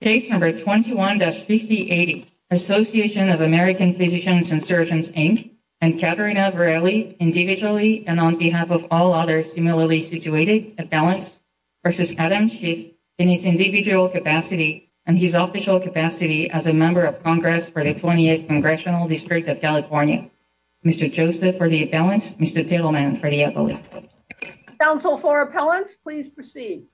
Case No. 21-5080, Association of American Physicians and Surgeons, Inc., and Katerina Varelli, individually and on behalf of all others similarly situated, appellants, v. Adam Schiff, in his individual capacity and his official capacity as a member of Congress for the 28th Congressional District of California. Mr. Joseph for the appellants, Mr. Tittleman for the appellants. Council for appellants, please proceed.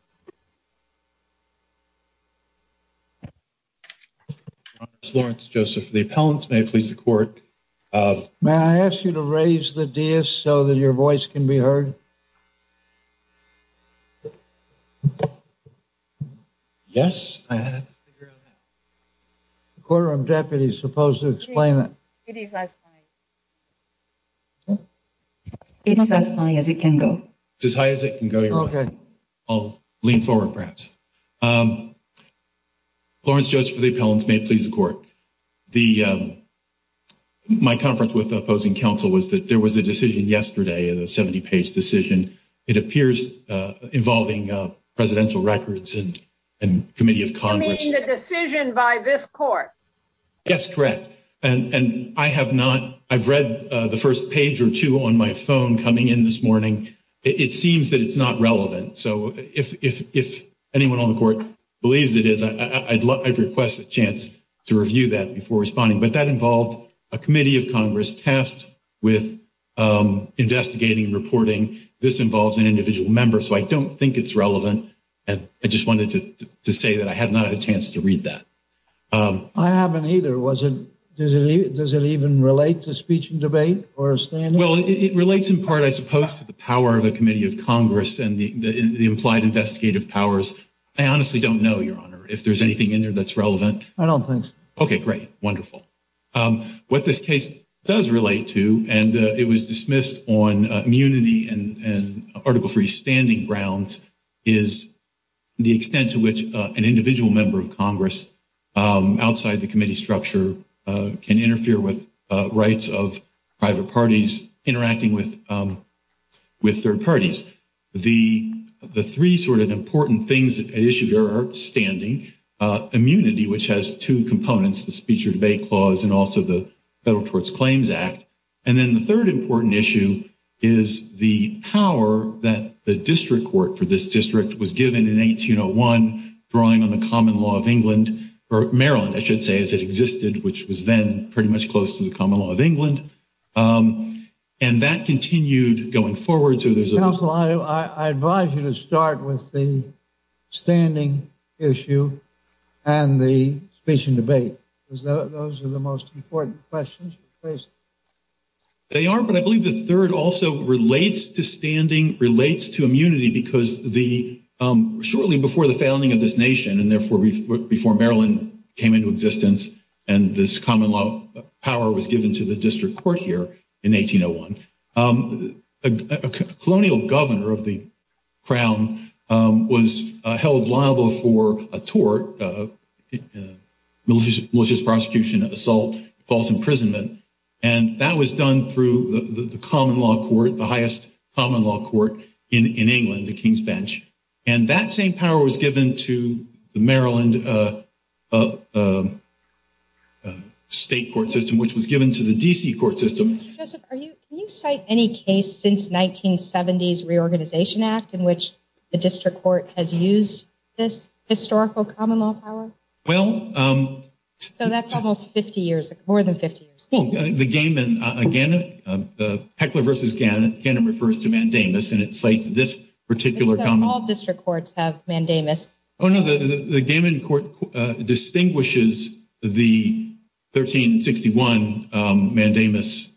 Lawrence Joseph, the appellants may please the court. May I ask you to raise the DS so that your voice can be heard? Yes. I had to figure out that. The courtroom deputy is supposed to explain that. It is as high as it can go. It's as high as it can go, Your Honor. Okay. I'll lean forward, perhaps. My conference with the opposing counsel was that there was a decision yesterday, a 70-page decision. It appears involving presidential records and committee of Congress. You mean the decision by this court? Yes, correct. And I have not – I've read the first page or two on my phone coming in this morning. It seems that it's not relevant. So if anyone on the court believes it is, I'd request a chance to review that before responding. But that involved a committee of Congress tasked with investigating and reporting. This involves an individual member, so I don't think it's relevant. I just wanted to say that I have not had a chance to read that. I haven't either. Does it even relate to speech and debate or a standing? Well, it relates in part, I suppose, to the power of a committee of Congress and the implied investigative powers. I honestly don't know, Your Honor, if there's anything in there that's relevant. I don't think so. Okay, great. Wonderful. What this case does relate to, and it was dismissed on immunity and Article III standing grounds, is the extent to which an individual member of Congress outside the committee structure can interfere with rights of private parties interacting with third parties. The three sort of important things at issue here are standing, immunity, which has two components, the speech or debate clause, and also the Federal Courts Claims Act. And then the third important issue is the power that the district court for this district was given in 1801, drawing on the common law of England, or Maryland, I should say, as it existed, which was then pretty much close to the common law of England. And that continued going forward. Counsel, I advise you to start with the standing issue and the speech and debate, because those are the most important questions. Please. They are, but I believe the third also relates to standing, relates to immunity, because shortly before the founding of this nation and therefore before Maryland came into existence and this common law power was given to the district court here in 1801, a colonial governor of the crown was held liable for a tort, malicious prosecution, assault, false imprisonment. And that was done through the common law court, the highest common law court in England, the King's Bench. And that same power was given to the Maryland state court system, which was given to the D.C. court system. Mr. Joseph, can you cite any case since 1970's Reorganization Act in which the district court has used this historical common law power? Well. So that's almost 50 years, more than 50 years. The Gaiman, again, Heckler versus Gaiman, Gaiman refers to mandamus, and it cites this particular common law. So all district courts have mandamus. Oh, no, the Gaiman court distinguishes the 1361 mandamus,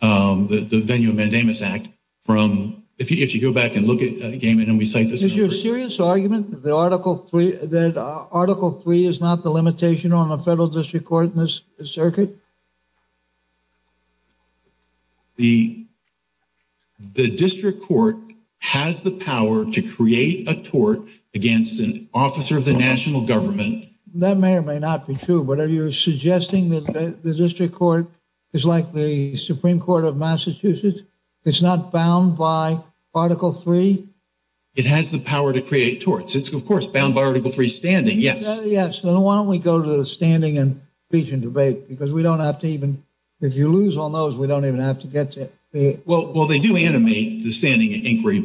the Venue of Mandamus Act from, if you go back and look at Gaiman and we cite this. Is your serious argument that Article III is not the limitation on a federal district court in this circuit? The district court has the power to create a tort against an officer of the national government. That may or may not be true. But are you suggesting that the district court is like the Supreme Court of Massachusetts? It's not bound by Article III? It has the power to create torts. It's, of course, bound by Article III standing, yes. Yes. So why don't we go to the standing and speech and debate? Because we don't have to even, if you lose on those, we don't even have to get to it. Well, they do animate the standing inquiry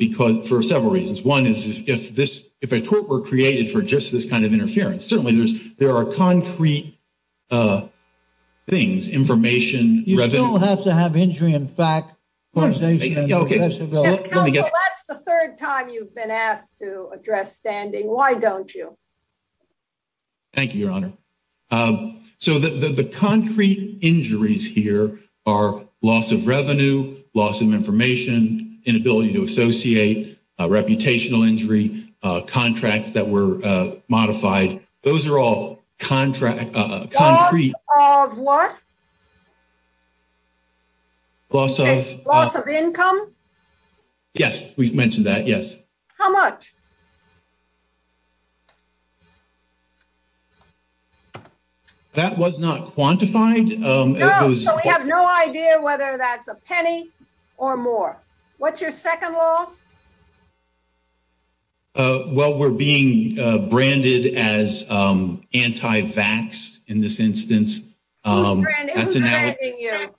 for several reasons. One is if a tort were created for just this kind of interference, certainly there are concrete things, information, revenue. You still have to have injury in fact. Counsel, that's the third time you've been asked to address standing. Why don't you? Thank you, Your Honor. So the concrete injuries here are loss of revenue, loss of information, inability to associate, reputational injury, contracts that were modified. Those are all concrete. Loss of what? Loss of? Loss of income? Yes, we've mentioned that, yes. How much? That was not quantified. No, so we have no idea whether that's a penny or more. What's your second loss? Well, we're being branded as anti-vax in this instance. Who's branding you?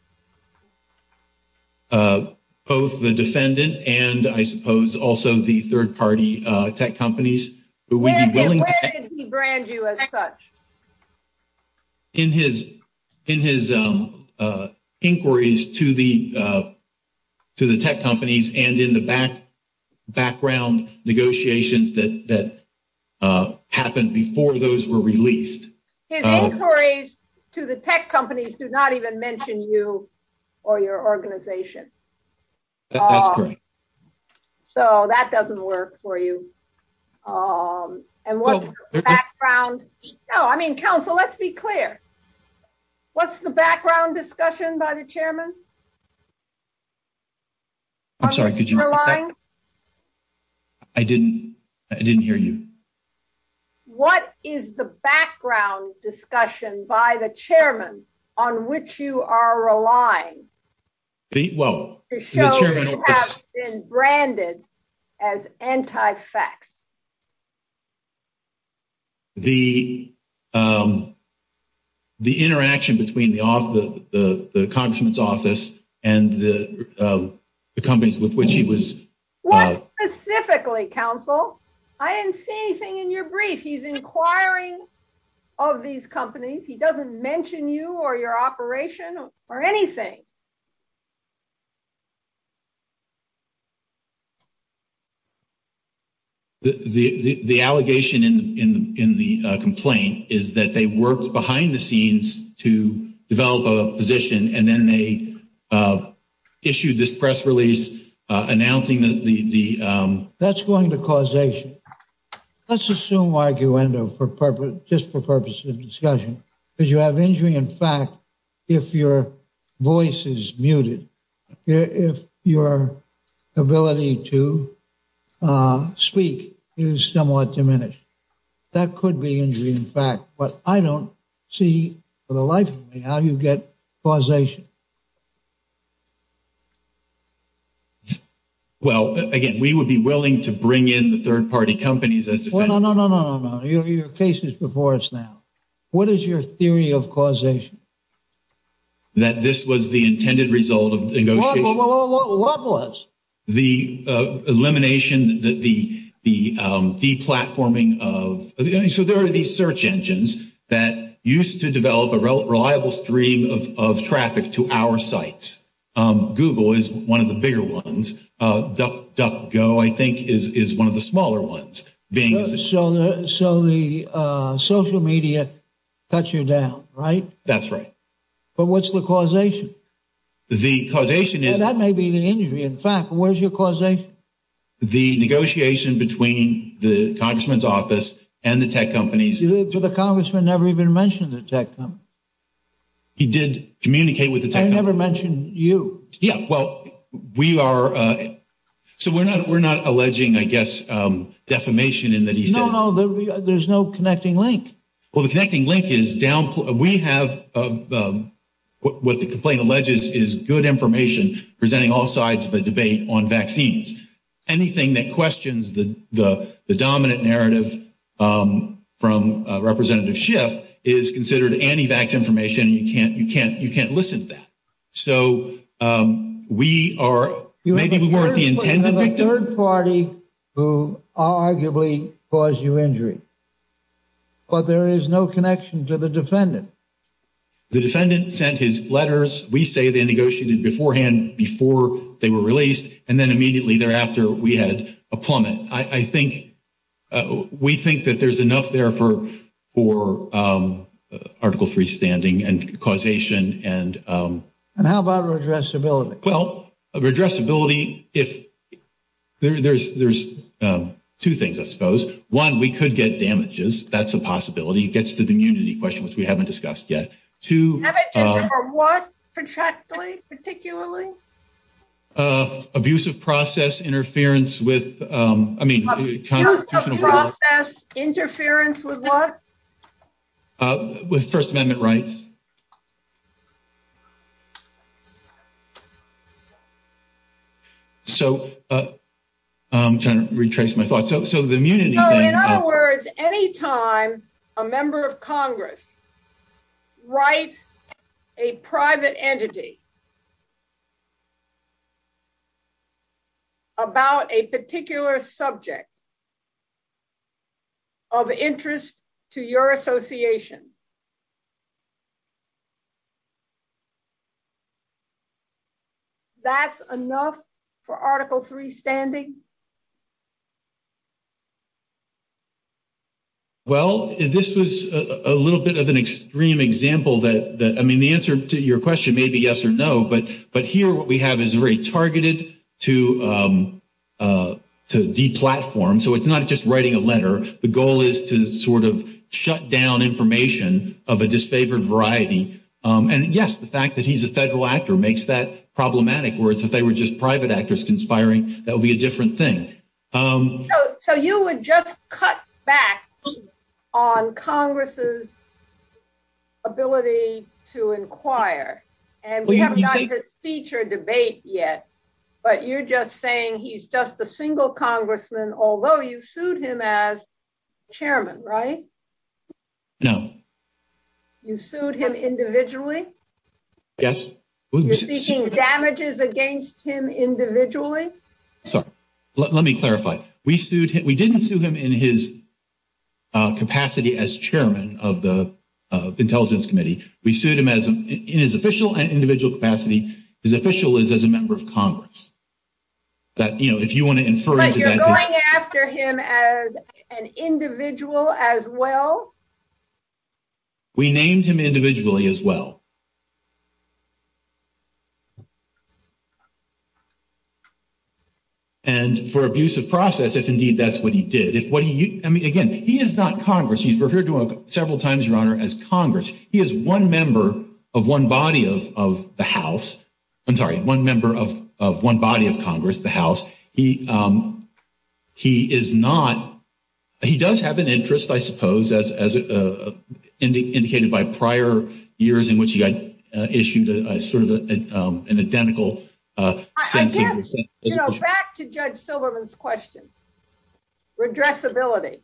Both the defendant and I suppose also the third-party tech companies. Where did he brand you as such? In his inquiries to the tech companies and in the background negotiations that happened before those were released. His inquiries to the tech companies do not even mention you or your organization. That's correct. So that doesn't work for you. And what's the background? No, I mean, counsel, let's be clear. What's the background discussion by the chairman? I'm sorry, could you repeat that? I didn't hear you. What is the background discussion by the chairman on which you are relying to show you have been branded as anti-fax? The interaction between the congressman's office and the companies with which he was. What specifically, counsel? I didn't see anything in your brief. He's inquiring of these companies. He doesn't mention you or your operation or anything. The allegation in the complaint is that they worked behind the scenes to develop a position, and then they issued this press release announcing that the. That's going to causation. Let's assume arguendo for purpose, just for purposes of discussion. Did you have injury? In fact, if your voice is muted, if your ability to speak is somewhat diminished, that could be injury. In fact, what I don't see for the life of me, how you get causation. Well, again, we would be willing to bring in the third party companies as well. No, no, no, no, no, no, no. Your case is before us now. What is your theory of causation? That this was the intended result of what was the elimination that the the the platforming of. So there are these search engines that used to develop a reliable stream of traffic to our sites. Google is one of the bigger ones. Duck Duck Go, I think, is one of the smaller ones being. So. So the social media got you down, right? That's right. But what's the causation? The causation is that may be the injury. In fact, where's your causation? The negotiation between the congressman's office and the tech companies. The congressman never even mentioned the tech. He did communicate with the tech. I never mentioned you. Yeah, well, we are. So we're not we're not alleging, I guess, defamation in that. No, no, there's no connecting link. Well, the connecting link is down. We have what the complaint alleges is good information presenting all sides of the debate on vaccines. Anything that questions the dominant narrative from Representative Schiff is considered anti-vax information. You can't you can't you can't listen to that. So we are. Third party who arguably caused you injury. But there is no connection to the defendant. The defendant sent his letters. We say they negotiated beforehand before they were released. And then immediately thereafter, we had a plummet. I think we think that there's enough there for for article freestanding and causation. And and how about addressability? Well, addressability, if there's there's two things, I suppose. One, we could get damages. That's a possibility. It gets to the immunity question, which we haven't discussed yet. To what? Particularly, particularly. Abusive process interference with, I mean, interference with what? With First Amendment rights. So I'm trying to retrace my thoughts. So in other words, any time a member of Congress writes a private entity. About a particular subject. Of interest to your association. That's enough for article freestanding. Well, this was a little bit of an extreme example that I mean, the answer to your question may be yes or no, but. But here what we have is very targeted to the platform. So it's not just writing a letter. The goal is to sort of shut down information. Of a disfavored variety. And yes, the fact that he's a federal actor makes that problematic words. If they were just private actors conspiring, that would be a different thing. So you would just cut back on Congress's. Ability to inquire and feature debate yet. But you're just saying he's just a single congressman, although you sued him as chairman, right? No. You sued him individually. Yes. Damages against him individually. Let me clarify. We sued him. We didn't sue him in his. Capacity as chairman of the intelligence committee, we sued him as in his official and individual capacity. His official is as a member of Congress. But, you know, if you want to infer. You're going after him as an individual as well. We named him individually as well. And for abuse of process, if indeed, that's what he did. If what he I mean, again, he is not Congress. He's referred to several times runner as Congress. He is one member of one body of the house. I'm sorry. One member of one body of Congress, the house. He, he is not. He does have an interest, I suppose, as indicated by prior years in which he got issued sort of an identical. Back to judge Silverman's question. Redress ability.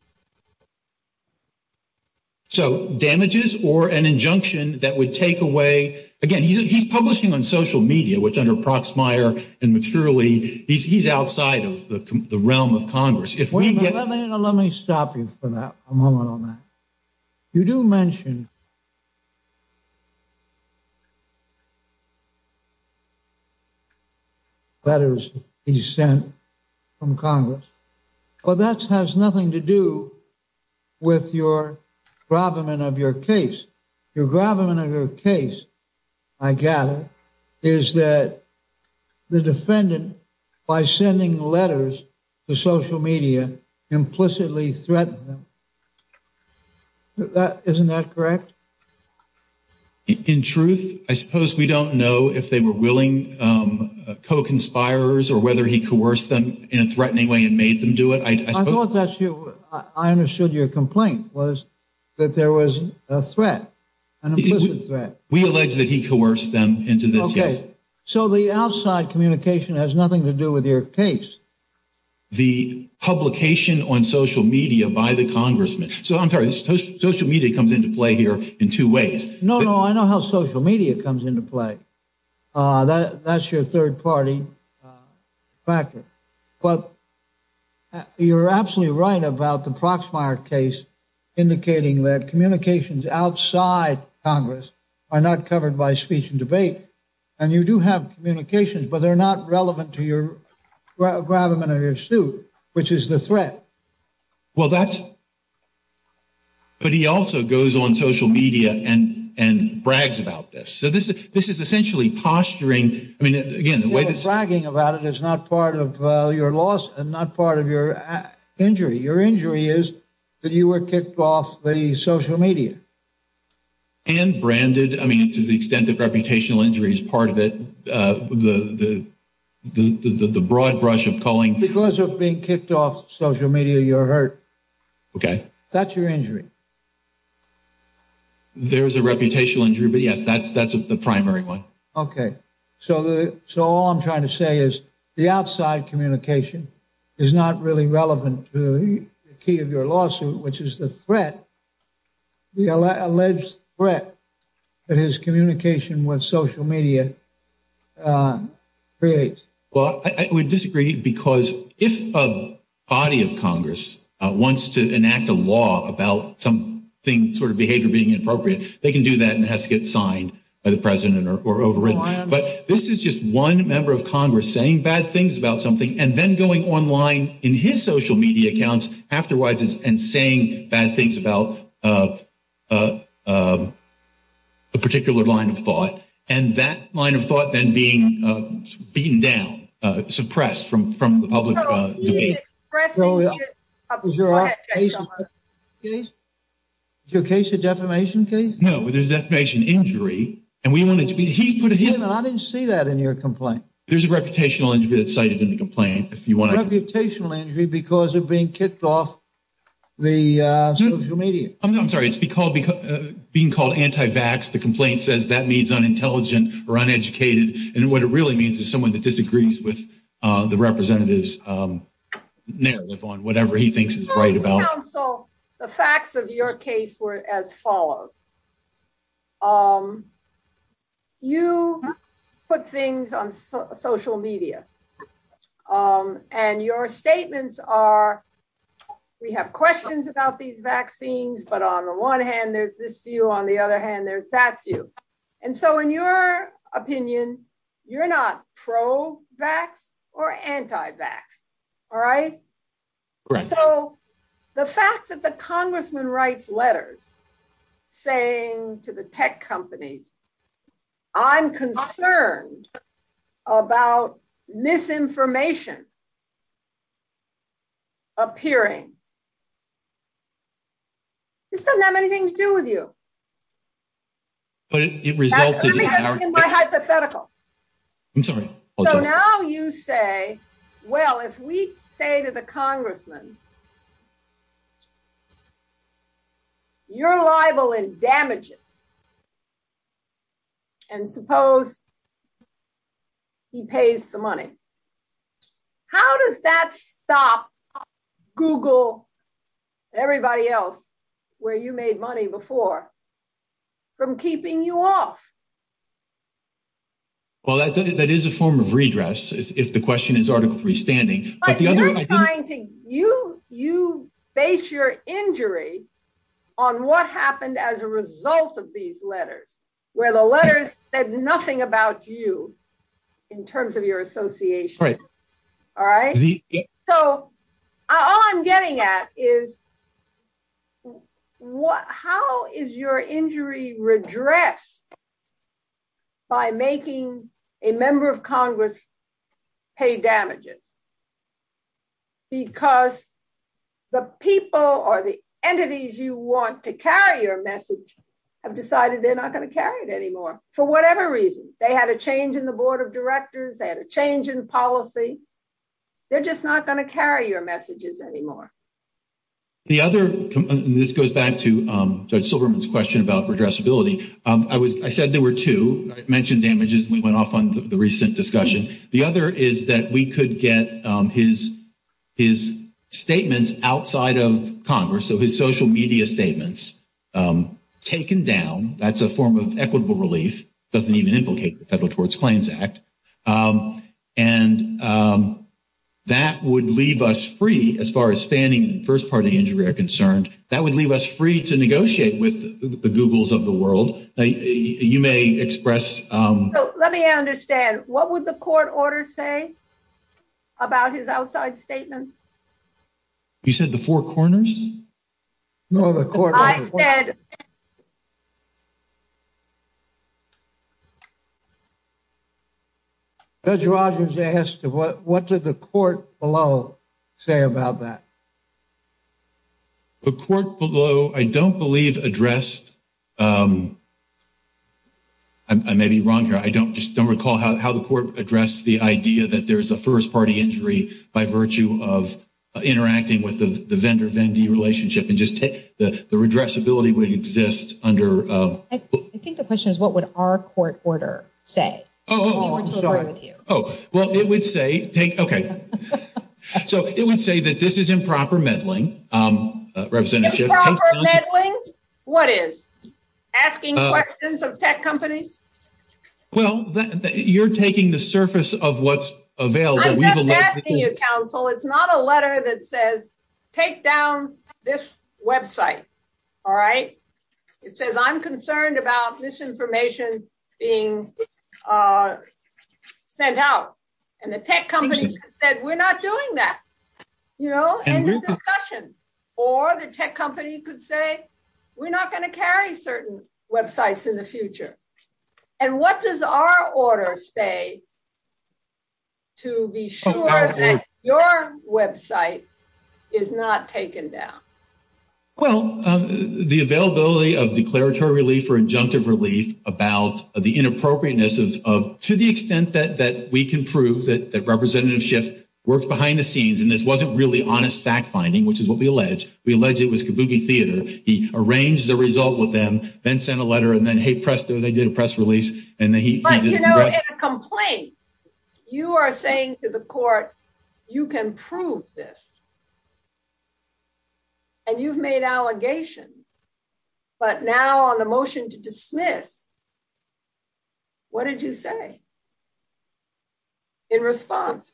So damages or an injunction that would take away again, he's publishing on social media, which under Proxmire and maturely, he's outside of the realm of Congress. If we get. Let me stop you for a moment on that. You do mention. Letters he sent from Congress. Well, that has nothing to do with your problem and of your case. You're grabbing another case. I gather is that the defendant by sending letters to social media implicitly threatened. Isn't that correct? In truth, I suppose we don't know if they were willing co conspires or whether he coerced them in a threatening way and made them do it. I thought that I understood your complaint was that there was a threat. And we allege that he coerced them into this. Yes. So the outside communication has nothing to do with your case. The publication on social media by the congressman. So I'm sorry. Social media comes into play here in two ways. No, no. I know how social media comes into play. That's your third party. But you're absolutely right about the Proxmire case, indicating that communications outside Congress are not covered by speech and debate. And you do have communications, but they're not relevant to your suit, which is the threat. Well, that's. But he also goes on social media and and brags about this. So this is this is essentially posturing. I mean, again, bragging about it is not part of your loss and not part of your injury. Your injury is that you were kicked off the social media. And branded, I mean, to the extent that reputational injury is part of it, the broad brush of calling because of being kicked off social media, you're hurt. OK, that's your injury. There is a reputational injury, but, yes, that's that's the primary one. OK, so. So all I'm trying to say is the outside communication is not really relevant to the key of your lawsuit, which is the threat. The alleged threat that his communication with social media creates. Well, I would disagree because if a body of Congress wants to enact a law about something sort of behavior being inappropriate, they can do that and has to get signed by the president or overridden. But this is just one member of Congress saying bad things about something and then going online in his social media accounts. Afterwards, and saying bad things about a particular line of thought and that line of thought then being beaten down, suppressed from from the public. Your case, a defamation case. No, there's defamation injury and we wanted to be. I didn't see that in your complaint. There's a reputational injury that's cited in the complaint. If you want a reputational injury because of being kicked off the social media. I'm sorry, it's because being called anti-vax. The complaint says that means unintelligent or uneducated. And what it really means is someone that disagrees with the representatives on whatever he thinks is right about the facts of your case were as follows. You put things on social media. And your statements are we have questions about these vaccines. But on the one hand, there's this view. On the other hand, there's that view. And so in your opinion, you're not pro-vax or anti-vax. All right. So the fact that the congressman writes letters saying to the tech companies, I'm concerned about misinformation. Appearing. It doesn't have anything to do with you. But it resulted in my hypothetical. I'm sorry. So now you say, well, if we say to the congressman. You're liable in damages. And suppose. He pays the money. How does that stop Google? Everybody else where you made money before. From keeping you off. Well, that is a form of redress. If the question is Article 3 standing. You you base your injury on what happened as a result of these letters where the letters said nothing about you in terms of your association. Right. All right. So all I'm getting at is. What how is your injury redress? By making a member of Congress pay damages. Because the people are the entities you want to carry your message have decided they're not going to carry it anymore. For whatever reason, they had a change in the board of directors. They had a change in policy. They're just not going to carry your messages anymore. The other. This goes back to Judge Silverman's question about redress ability. I was I said there were two mentioned damages. We went off on the recent discussion. The other is that we could get his his statements outside of Congress. So his social media statements taken down. That's a form of equitable relief. Doesn't even implicate the Federal Towards Claims Act. And that would leave us free as far as standing first party injury are concerned. That would leave us free to negotiate with the Googles of the world. You may express. Let me understand. What would the court order say about his outside statements? You said the four corners. No, the court said. Judge Rogers asked what did the court below say about that? The court below, I don't believe addressed. I may be wrong here. I don't just don't recall how the court addressed the idea that there is a first party injury by virtue of interacting with the vendor. The relationship and just take the redress ability would exist under. I think the question is, what would our court order say? Oh, well, it would say take. OK, so it would say that this is improper meddling. Representative meddling. What is asking questions of tech companies? Well, you're taking the surface of what's available. So it's not a letter that says take down this website. All right. It says I'm concerned about misinformation being sent out. And the tech companies said, we're not doing that. You know, discussion or the tech company could say we're not going to carry certain websites in the future. And what does our order say? To be sure that your website is not taken down. Well, the availability of declaratory relief for injunctive relief about the inappropriateness of to the extent that that we can prove that the representative shift worked behind the scenes. And this wasn't really honest fact finding, which is what we allege. We allege it was Kabuki theater. He arranged the result with them, then sent a letter and then, hey, presto, they did a press release. And then he complained. You are saying to the court, you can prove this. And you've made allegations. But now on the motion to dismiss. What did you say? In response.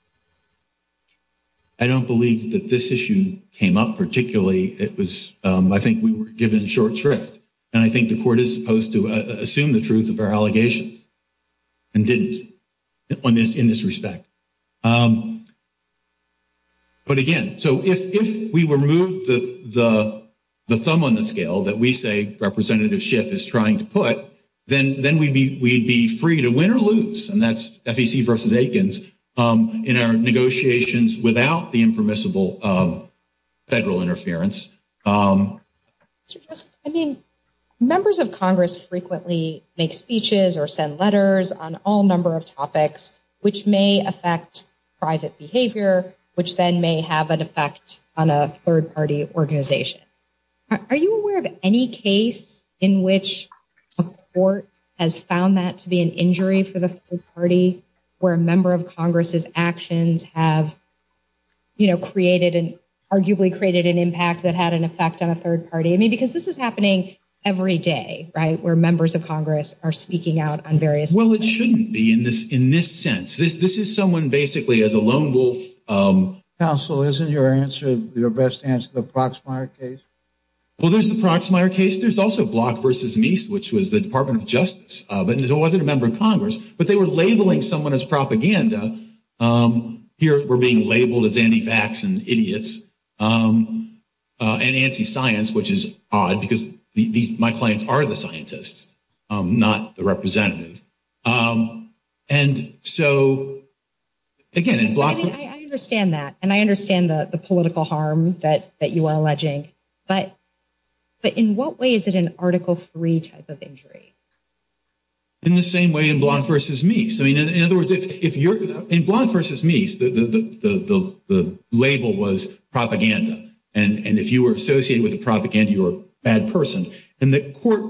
I don't believe that this issue came up particularly. It was I think we were given short shrift. And I think the court is supposed to assume the truth of our allegations. And didn't on this in this respect. But again, so if we remove the thumb on the scale that we say representative shift is trying to put, then we'd be free to win or lose. And that's FEC versus Aikens in our negotiations without the impermissible federal interference. I mean, members of Congress frequently make speeches or send letters on all number of topics, which may affect private behavior, which then may have an effect on a third party organization. Are you aware of any case in which a court has found that to be an injury for the party where a member of Congress's actions have created an arguably created an impact that had an effect on a third party? I mean, because this is happening every day, right? Where members of Congress are speaking out on various? Well, it shouldn't be in this in this sense. This is someone basically as a lone wolf. Counsel, isn't your answer your best answer to the Proxmire case? Well, there's the Proxmire case. There's also Block versus Meese, which was the Department of Justice. But it wasn't a member of Congress, but they were labeling someone as propaganda. Here we're being labeled as anti-vax and idiots and anti-science, which is odd because these my clients are the scientists, not the representative. And so. Again, I understand that, and I understand the political harm that that you are alleging, but. But in what way is it an Article three type of injury? In the same way in Block versus Meese, I mean, in other words, if you're in Block versus Meese, the label was propaganda. And if you were associated with the propaganda, you're a bad person. And the court,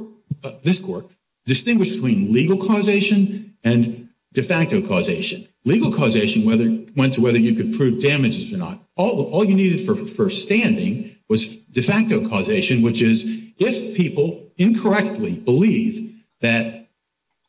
this court, distinguished between legal causation and de facto causation. Legal causation whether went to whether you could prove damages or not. All you needed for first standing was de facto causation, which is if people incorrectly believe that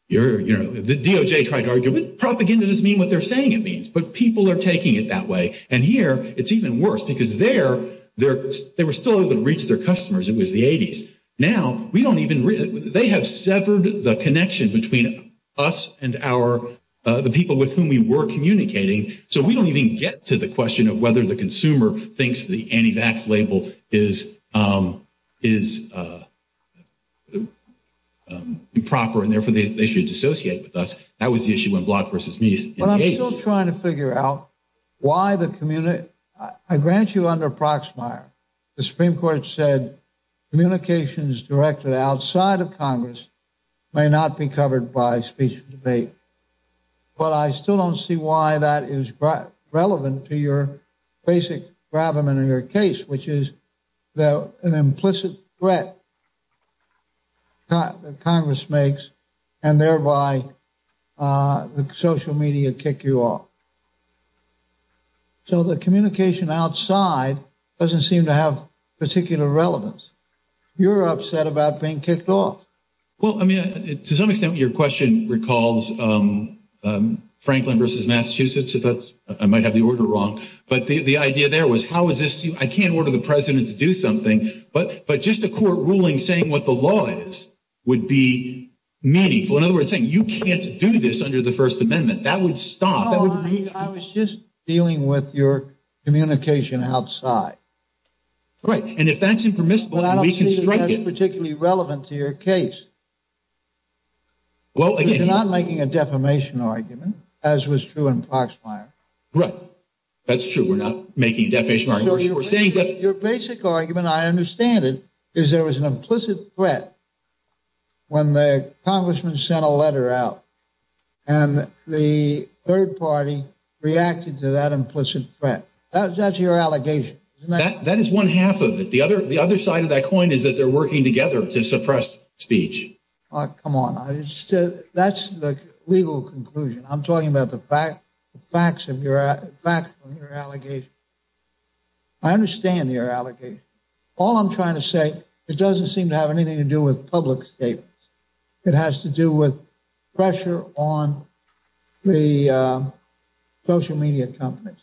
you're, you know, the DOJ tried to argue with propaganda doesn't mean what they're saying it means. But people are taking it that way. And here it's even worse because there, they were still able to reach their customers. It was the 80s. Now, we don't even, they have severed the connection between us and our, the people with whom we were communicating. So we don't even get to the question of whether the consumer thinks the anti-vax label is improper and therefore they should dissociate with us. That was the issue in Block versus Meese in the 80s. I'm still trying to figure out why the community, I grant you under Proxmire, the Supreme Court said communications directed outside of Congress may not be covered by speech and debate. But I still don't see why that is relevant to your basic gravamen in your case, which is an implicit threat that Congress makes and thereby the social media kick you off. So the communication outside doesn't seem to have particular relevance. You're upset about being kicked off. Well, I mean, to some extent, your question recalls Franklin versus Massachusetts. I might have the order wrong. But the idea there was how is this? I can't order the president to do something. But just a court ruling saying what the law is would be meaningful. In other words, saying you can't do this under the First Amendment. That would stop. I was just dealing with your communication outside. Right. And if that's impermissible, we can strike it. But it doesn't seem particularly relevant to your case. Well, you're not making a defamation argument, as was true in Proxmire. Right. That's true. We're not making a defamation argument. Your basic argument, I understand it, is there was an implicit threat when the congressman sent a letter out and the third party reacted to that implicit threat. That's your allegation. That is one half of it. You're putting together to suppress speech. Come on. That's the legal conclusion. I'm talking about the facts of your allegation. I understand your allegation. All I'm trying to say, it doesn't seem to have anything to do with public statements. It has to do with pressure on the social media companies.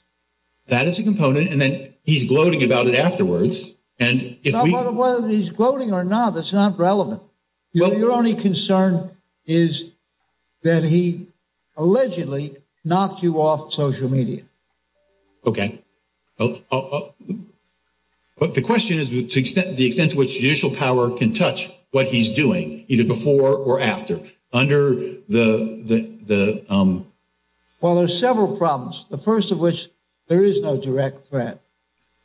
That is a component. And then he's gloating about it afterwards. Whether he's gloating or not, that's not relevant. Your only concern is that he allegedly knocked you off social media. Okay. But the question is, to the extent to which judicial power can touch what he's doing, either before or after, under the... Well, there's several problems. The first of which, there is no direct threat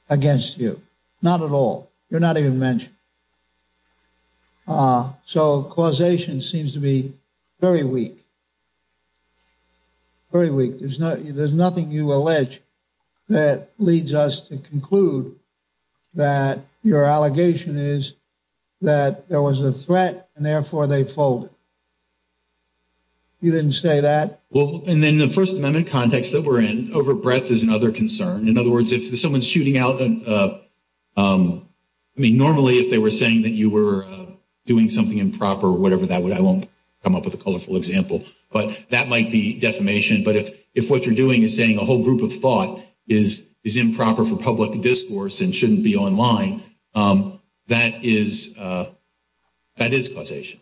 against you. Not at all. You're not even mentioned. So, causation seems to be very weak. Very weak. There's nothing you allege that leads us to conclude that your allegation is that there was a threat and therefore they folded. You didn't say that. In the First Amendment context that we're in, overbreadth is another concern. In other words, if someone's shooting out... I mean, normally if they were saying that you were doing something improper or whatever that would... I won't come up with a colorful example. But that might be defamation. But if what you're doing is saying a whole group of thought is improper for public discourse and shouldn't be online, that is causation.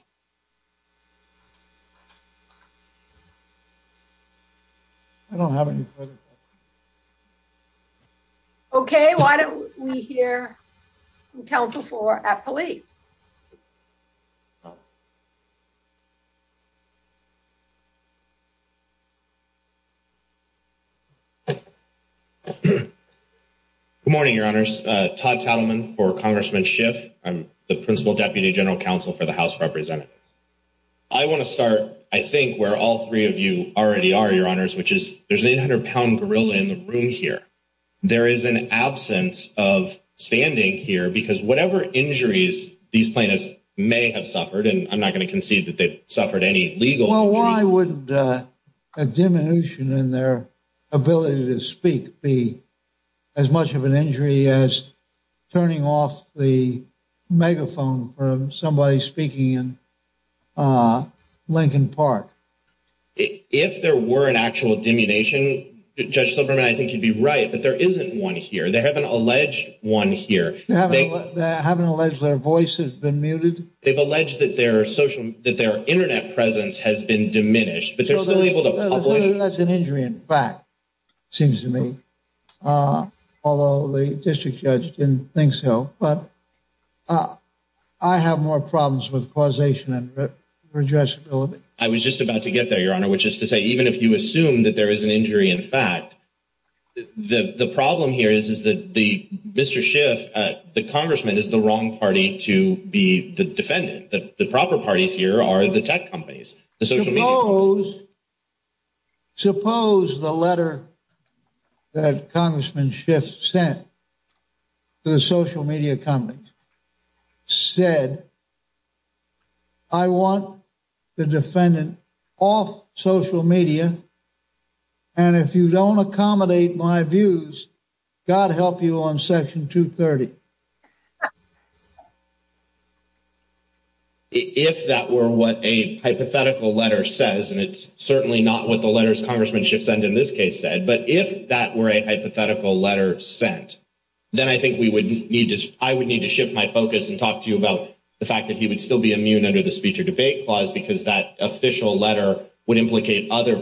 I don't have any further questions. Okay. Why don't we hear from Council for Appellate. Good morning, Your Honors. Todd Tatelman for Congressman Schiff. I'm the Principal Deputy General Counsel for the House of Representatives. I want to start, I think, where all three of you already are, Your Honors, which is there's an 800-pound gorilla in the room here. There is an absence of standing here because whatever injuries these plaintiffs may have suffered, and I'm not going to concede that they've suffered any legal injuries... The megaphone from somebody speaking in Lincoln Park. If there were an actual diminution, Judge Silberman, I think you'd be right, but there isn't one here. They haven't alleged one here. They haven't alleged their voice has been muted? They've alleged that their social... that their Internet presence has been diminished, but they're still able to publish... That's an injury in fact, seems to me. Although the District Judge didn't think so, but I have more problems with causation and redressability. I was just about to get there, Your Honor, which is to say even if you assume that there is an injury in fact, the problem here is that Mr. Schiff, the Congressman, is the wrong party to be the defendant. The proper parties here are the tech companies, the social media companies. Suppose... suppose the letter that Congressman Schiff sent to the social media companies said, I want the defendant off social media, and if you don't accommodate my views, God help you on Section 230. If that were what a hypothetical letter says, and it's certainly not what the letters Congressman Schiff sent in this case said, but if that were a hypothetical letter sent, then I think we would need to... I would need to shift my focus and talk to you about the fact that he would still be immune under the Speech or Debate Clause because that official letter would implicate other...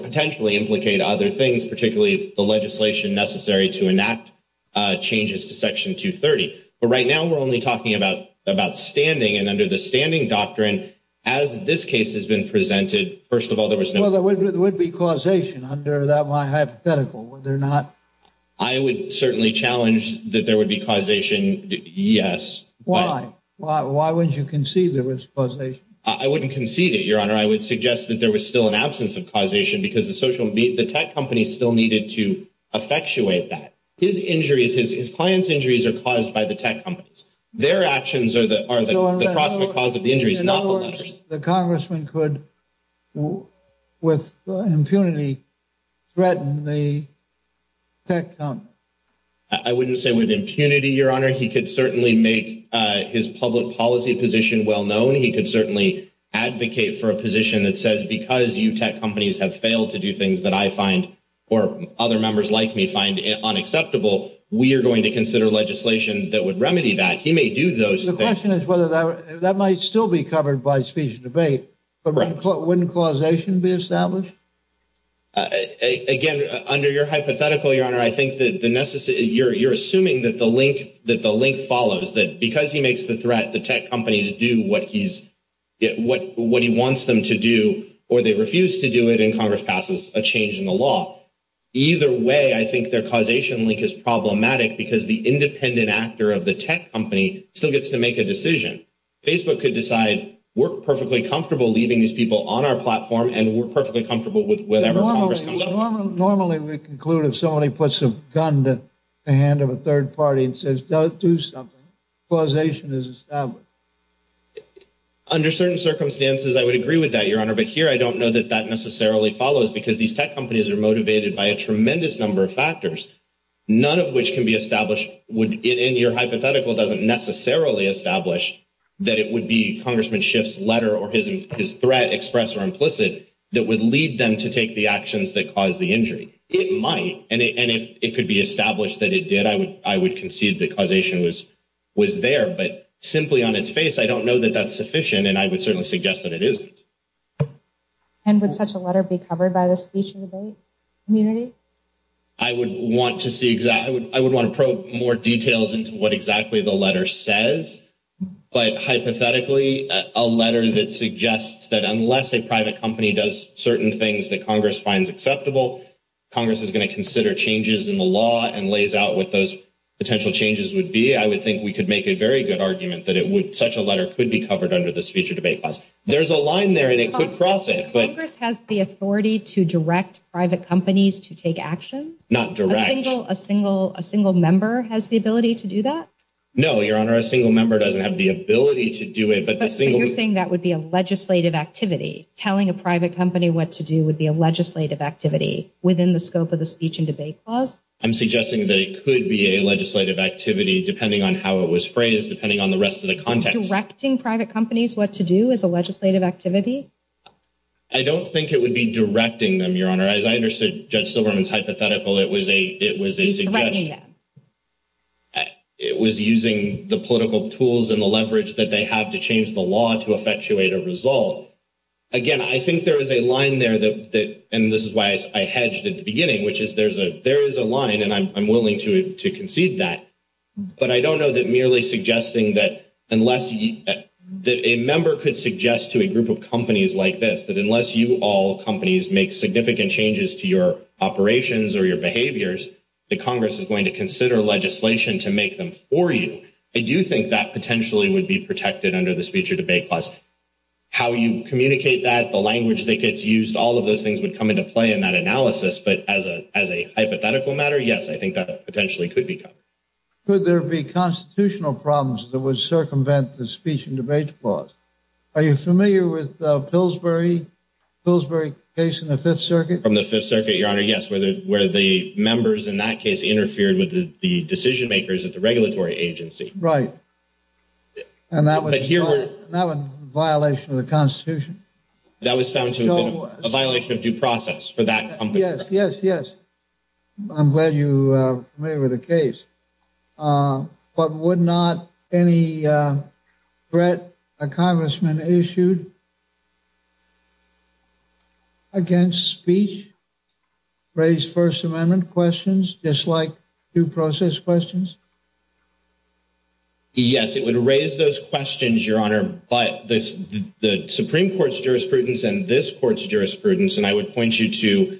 But right now we're only talking about standing, and under the standing doctrine, as this case has been presented, first of all, there was no... Well, there would be causation under that hypothetical, would there not? I would certainly challenge that there would be causation, yes. Why? Why wouldn't you concede there was causation? I wouldn't concede it, Your Honor. I would suggest that there was still an absence of causation because the tech companies still needed to effectuate that. His injuries, his clients' injuries are caused by the tech companies. Their actions are the cause of the injuries, not the letters. In other words, the Congressman could, with impunity, threaten the tech companies. I wouldn't say with impunity, Your Honor. He could certainly make his public policy position well known. He could certainly advocate for a position that says, because you tech companies have failed to do things that I find or other members like me find unacceptable, we are going to consider legislation that would remedy that. He may do those things. The question is whether that might still be covered by Speech or Debate, but wouldn't causation be established? Again, under your hypothetical, Your Honor, I think that you're assuming that the link follows, that because he makes the threat, the tech companies do what he wants them to do, or they refuse to do it, and Congress passes a change in the law. Either way, I think their causation link is problematic because the independent actor of the tech company still gets to make a decision. Facebook could decide, we're perfectly comfortable leaving these people on our platform, and we're perfectly comfortable with whatever Congress comes up with. Normally, we conclude if somebody puts a gun to the hand of a third party and says, don't do something, causation is established. Under certain circumstances, I would agree with that, Your Honor, but here I don't know that that necessarily follows because these tech companies are motivated by a tremendous number of factors, none of which can be established. Your hypothetical doesn't necessarily establish that it would be Congressman Schiff's letter or his threat, express or implicit, that would lead them to take the actions that caused the injury. It might, and if it could be established that it did, I would concede that causation was there, but simply on its face, I don't know that that's sufficient, and I would certainly suggest that it isn't. And would such a letter be covered by the Speech and Debate community? I would want to probe more details into what exactly the letter says, but hypothetically, a letter that suggests that unless a private company does certain things that Congress finds acceptable, Congress is going to consider changes in the law and lays out what those potential changes would be. I would think we could make a very good argument that such a letter could be covered under the Speech and Debate class. There's a line there, and it could cross it. Congress has the authority to direct private companies to take action? Not direct. A single member has the ability to do that? No, Your Honor, a single member doesn't have the ability to do it, but the single… So you're saying that would be a legislative activity? Telling a private company what to do would be a legislative activity within the scope of the Speech and Debate class? I'm suggesting that it could be a legislative activity depending on how it was phrased, depending on the rest of the context. Are you directing private companies what to do as a legislative activity? I don't think it would be directing them, Your Honor. As I understood Judge Silverman's hypothetical, it was a suggestion. It was using the political tools and the leverage that they have to change the law to effectuate a result. Again, I think there is a line there, and this is why I hedged at the beginning, which is there is a line, and I'm willing to concede that. But I don't know that merely suggesting that a member could suggest to a group of companies like this, that unless you all companies make significant changes to your operations or your behaviors, that Congress is going to consider legislation to make them for you. I do think that potentially would be protected under the Speech and Debate class. How you communicate that, the language that gets used, all of those things would come into play in that analysis. But as a hypothetical matter, yes, I think that potentially could be covered. Could there be constitutional problems that would circumvent the Speech and Debate clause? Are you familiar with the Pillsbury case in the Fifth Circuit? From the Fifth Circuit, Your Honor, yes, where the members in that case interfered with the decision makers at the regulatory agency. Right. And that was a violation of the Constitution? That was found to have been a violation of due process for that company. Yes, yes, yes. I'm glad you are familiar with the case. But would not any threat a congressman issued against speech raise First Amendment questions, just like due process questions? Yes, it would raise those questions, Your Honor. But the Supreme Court's jurisprudence and this court's jurisprudence, and I would point you to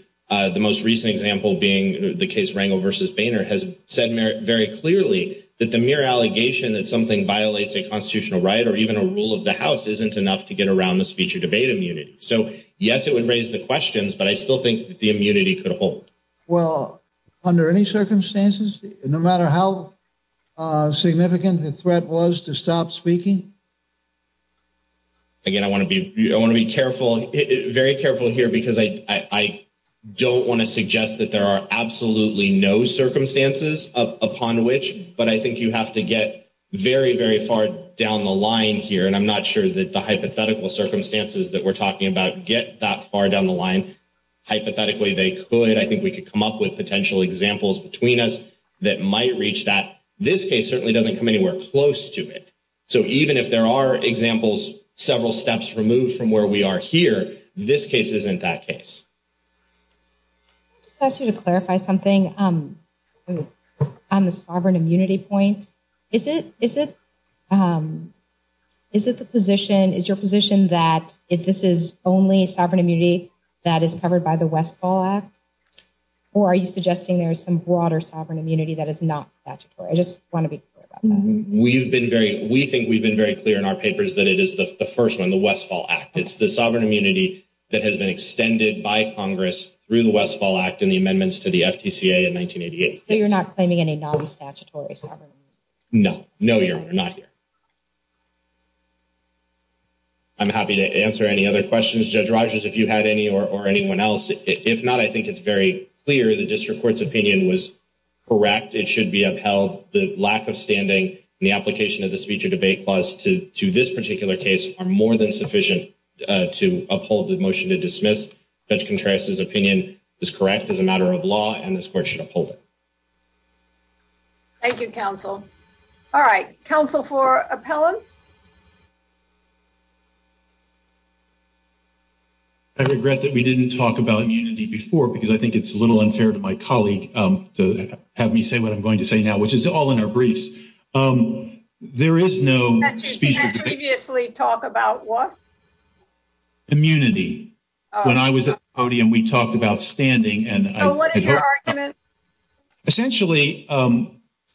the most recent example being the case Rangel v. Boehner, has said very clearly that the mere allegation that something violates a constitutional right or even a rule of the House isn't enough to get around the speech or debate immunity. So, yes, it would raise the questions, but I still think the immunity could hold. Well, under any circumstances, no matter how significant the threat was to stop speaking? Again, I want to be careful, very careful here, because I don't want to suggest that there are absolutely no circumstances upon which, but I think you have to get very, very far down the line here. And I'm not sure that the hypothetical circumstances that we're talking about get that far down the line. Hypothetically, they could. I think we could come up with potential examples between us that might reach that. This case certainly doesn't come anywhere close to it. And if there are examples several steps removed from where we are here, this case isn't that case. Can I just ask you to clarify something on the sovereign immunity point? Is it the position, is your position that this is only sovereign immunity that is covered by the Westfall Act? Or are you suggesting there is some broader sovereign immunity that is not statutory? I just want to be clear about that. We've been very, we think we've been very clear in our papers that it is the first one, the Westfall Act. It's the sovereign immunity that has been extended by Congress through the Westfall Act and the amendments to the FTCA in 1988. So you're not claiming any non-statutory sovereign immunity? No. No, Your Honor. Not here. I'm happy to answer any other questions. Judge Rogers, if you had any or anyone else. If not, I think it's very clear the district court's opinion was correct. It should be upheld. The lack of standing in the application of the speech or debate clause to this particular case are more than sufficient to uphold the motion to dismiss. Judge Contreras' opinion is correct as a matter of law, and this court should uphold it. Thank you, counsel. All right. Counsel for appellants? I regret that we didn't talk about immunity before because I think it's a little unfair to my colleague to have me say what I'm going to say now, which is all in our briefs. There is no speech or debate. You had previously talked about what? Immunity. When I was at the podium, we talked about standing. So what is your argument? Essentially,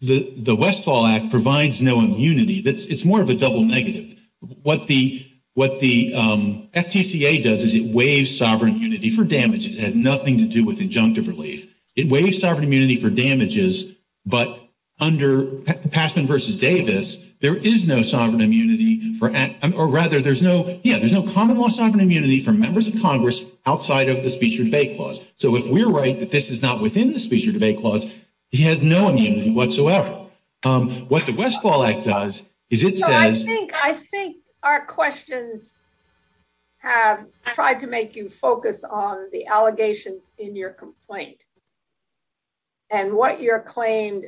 the Westfall Act provides no immunity. It's more of a double negative. What the FTCA does is it waives sovereign immunity for damages. It has nothing to do with injunctive relief. It waives sovereign immunity for damages, but under Passman v. Davis, there is no sovereign immunity or rather there's no common law sovereign immunity for members of Congress outside of the speech or debate clause. So if we're right that this is not within the speech or debate clause, he has no immunity whatsoever. What the Westfall Act does is it says... I think our questions have tried to make you focus on the allegations in your complaint and what your claimed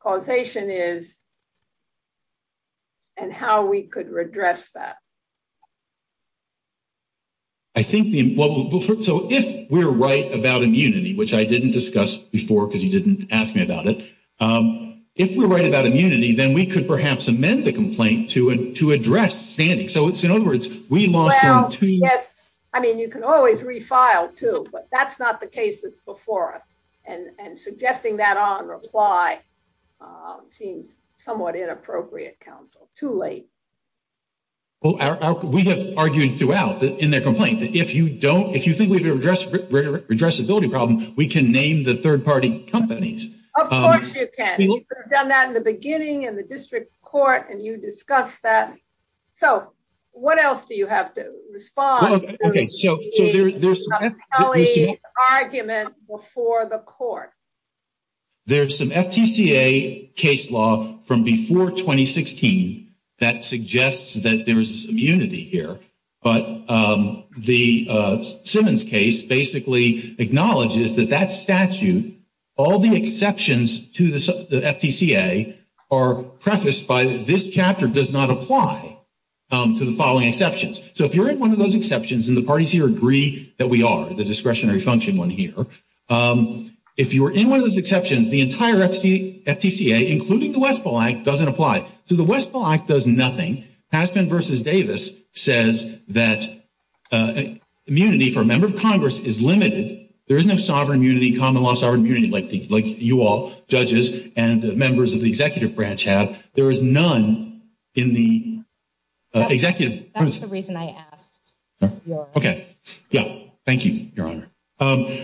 causation is and how we could redress that. So if we're right about immunity, which I didn't discuss before because you didn't ask me about it. If we're right about immunity, then we could perhaps amend the complaint to address standing. I mean, you can always refile too, but that's not the case that's before us. And suggesting that on reply seems somewhat inappropriate, counsel. Too late. Well, we have argued throughout in their complaint that if you don't, if you think we've addressed redressability problem, we can name the third party companies. Of course you can. We've done that in the beginning and the district court and you discussed that. So what else do you have to respond? Okay, so there's some FTCA argument before the court. There's some FTCA case law from before 2016 that suggests that there is immunity here. But the Simmons case basically acknowledges that that statute, all the exceptions to the FTCA are prefaced by this chapter does not apply to the following exceptions. So if you're in one of those exceptions and the parties here agree that we are the discretionary function one here. If you were in one of those exceptions, the entire FTCA, including the Westfall Act, doesn't apply. So the Westfall Act does nothing. Passman v. Davis says that immunity for a member of Congress is limited. There is no sovereign immunity, common law sovereign immunity like you all, judges and members of the executive branch have. There is none in the executive. That's the reason I asked. Okay. Yeah. Thank you, Your Honor.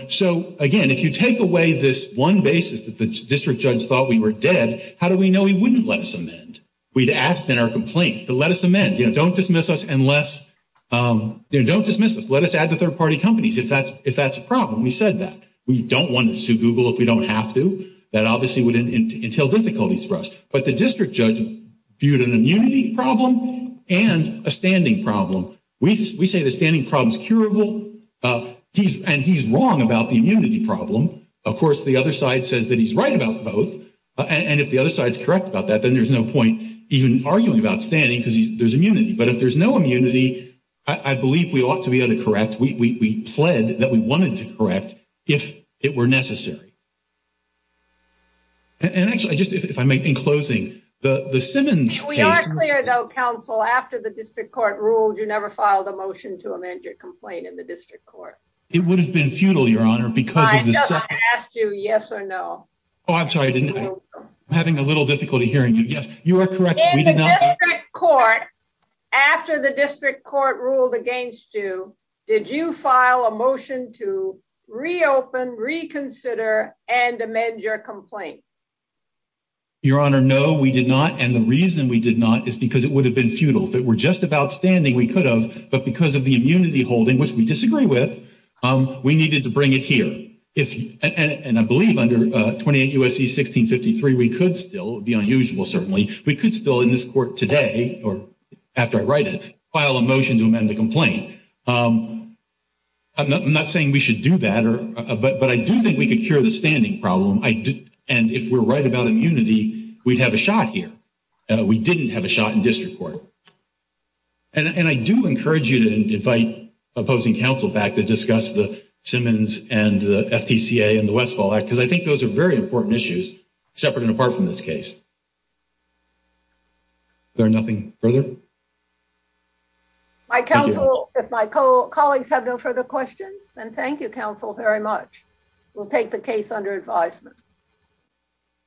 So, again, if you take away this one basis that the district judge thought we were dead, how do we know he wouldn't let us amend? We'd asked in our complaint to let us amend, you know, don't dismiss us unless, you know, don't dismiss us. Let us add the third-party companies if that's a problem. We said that. We don't want to sue Google if we don't have to. That obviously would entail difficulties for us. But the district judge viewed an immunity problem and a standing problem. We say the standing problem is curable. And he's wrong about the immunity problem. Of course, the other side says that he's right about both. And if the other side is correct about that, then there's no point even arguing about standing because there's immunity. But if there's no immunity, I believe we ought to be able to correct. We pled that we wanted to correct if it were necessary. And actually, just if I may, in closing, the Simmons case. We are clear, though, counsel, after the district court ruled, you never filed a motion to amend your complaint in the district court. It would have been futile, Your Honor, because of the. I just asked you yes or no. Oh, I'm sorry, I'm having a little difficulty hearing you. Yes, you are correct. In the district court, after the district court ruled against you, did you file a motion to reopen, reconsider, and amend your complaint? Your Honor, no, we did not. And the reason we did not is because it would have been futile. If it were just about standing, we could have. But because of the immunity holding, which we disagree with, we needed to bring it here. And I believe under 28 U.S.C. 1653, we could still. It would be unusual, certainly. We could still, in this court today, or after I write it, file a motion to amend the complaint. I'm not saying we should do that. But I do think we could cure the standing problem. If we're right about immunity, we'd have a shot here. We didn't have a shot in district court. And I do encourage you to invite opposing counsel back to discuss the Simmons and the FTCA and the Westfall Act, because I think those are very important issues, separate and apart from this case. Is there nothing further? My counsel, if my colleagues have no further questions, then thank you, counsel, very much. We'll take the case under advisement. Thank you.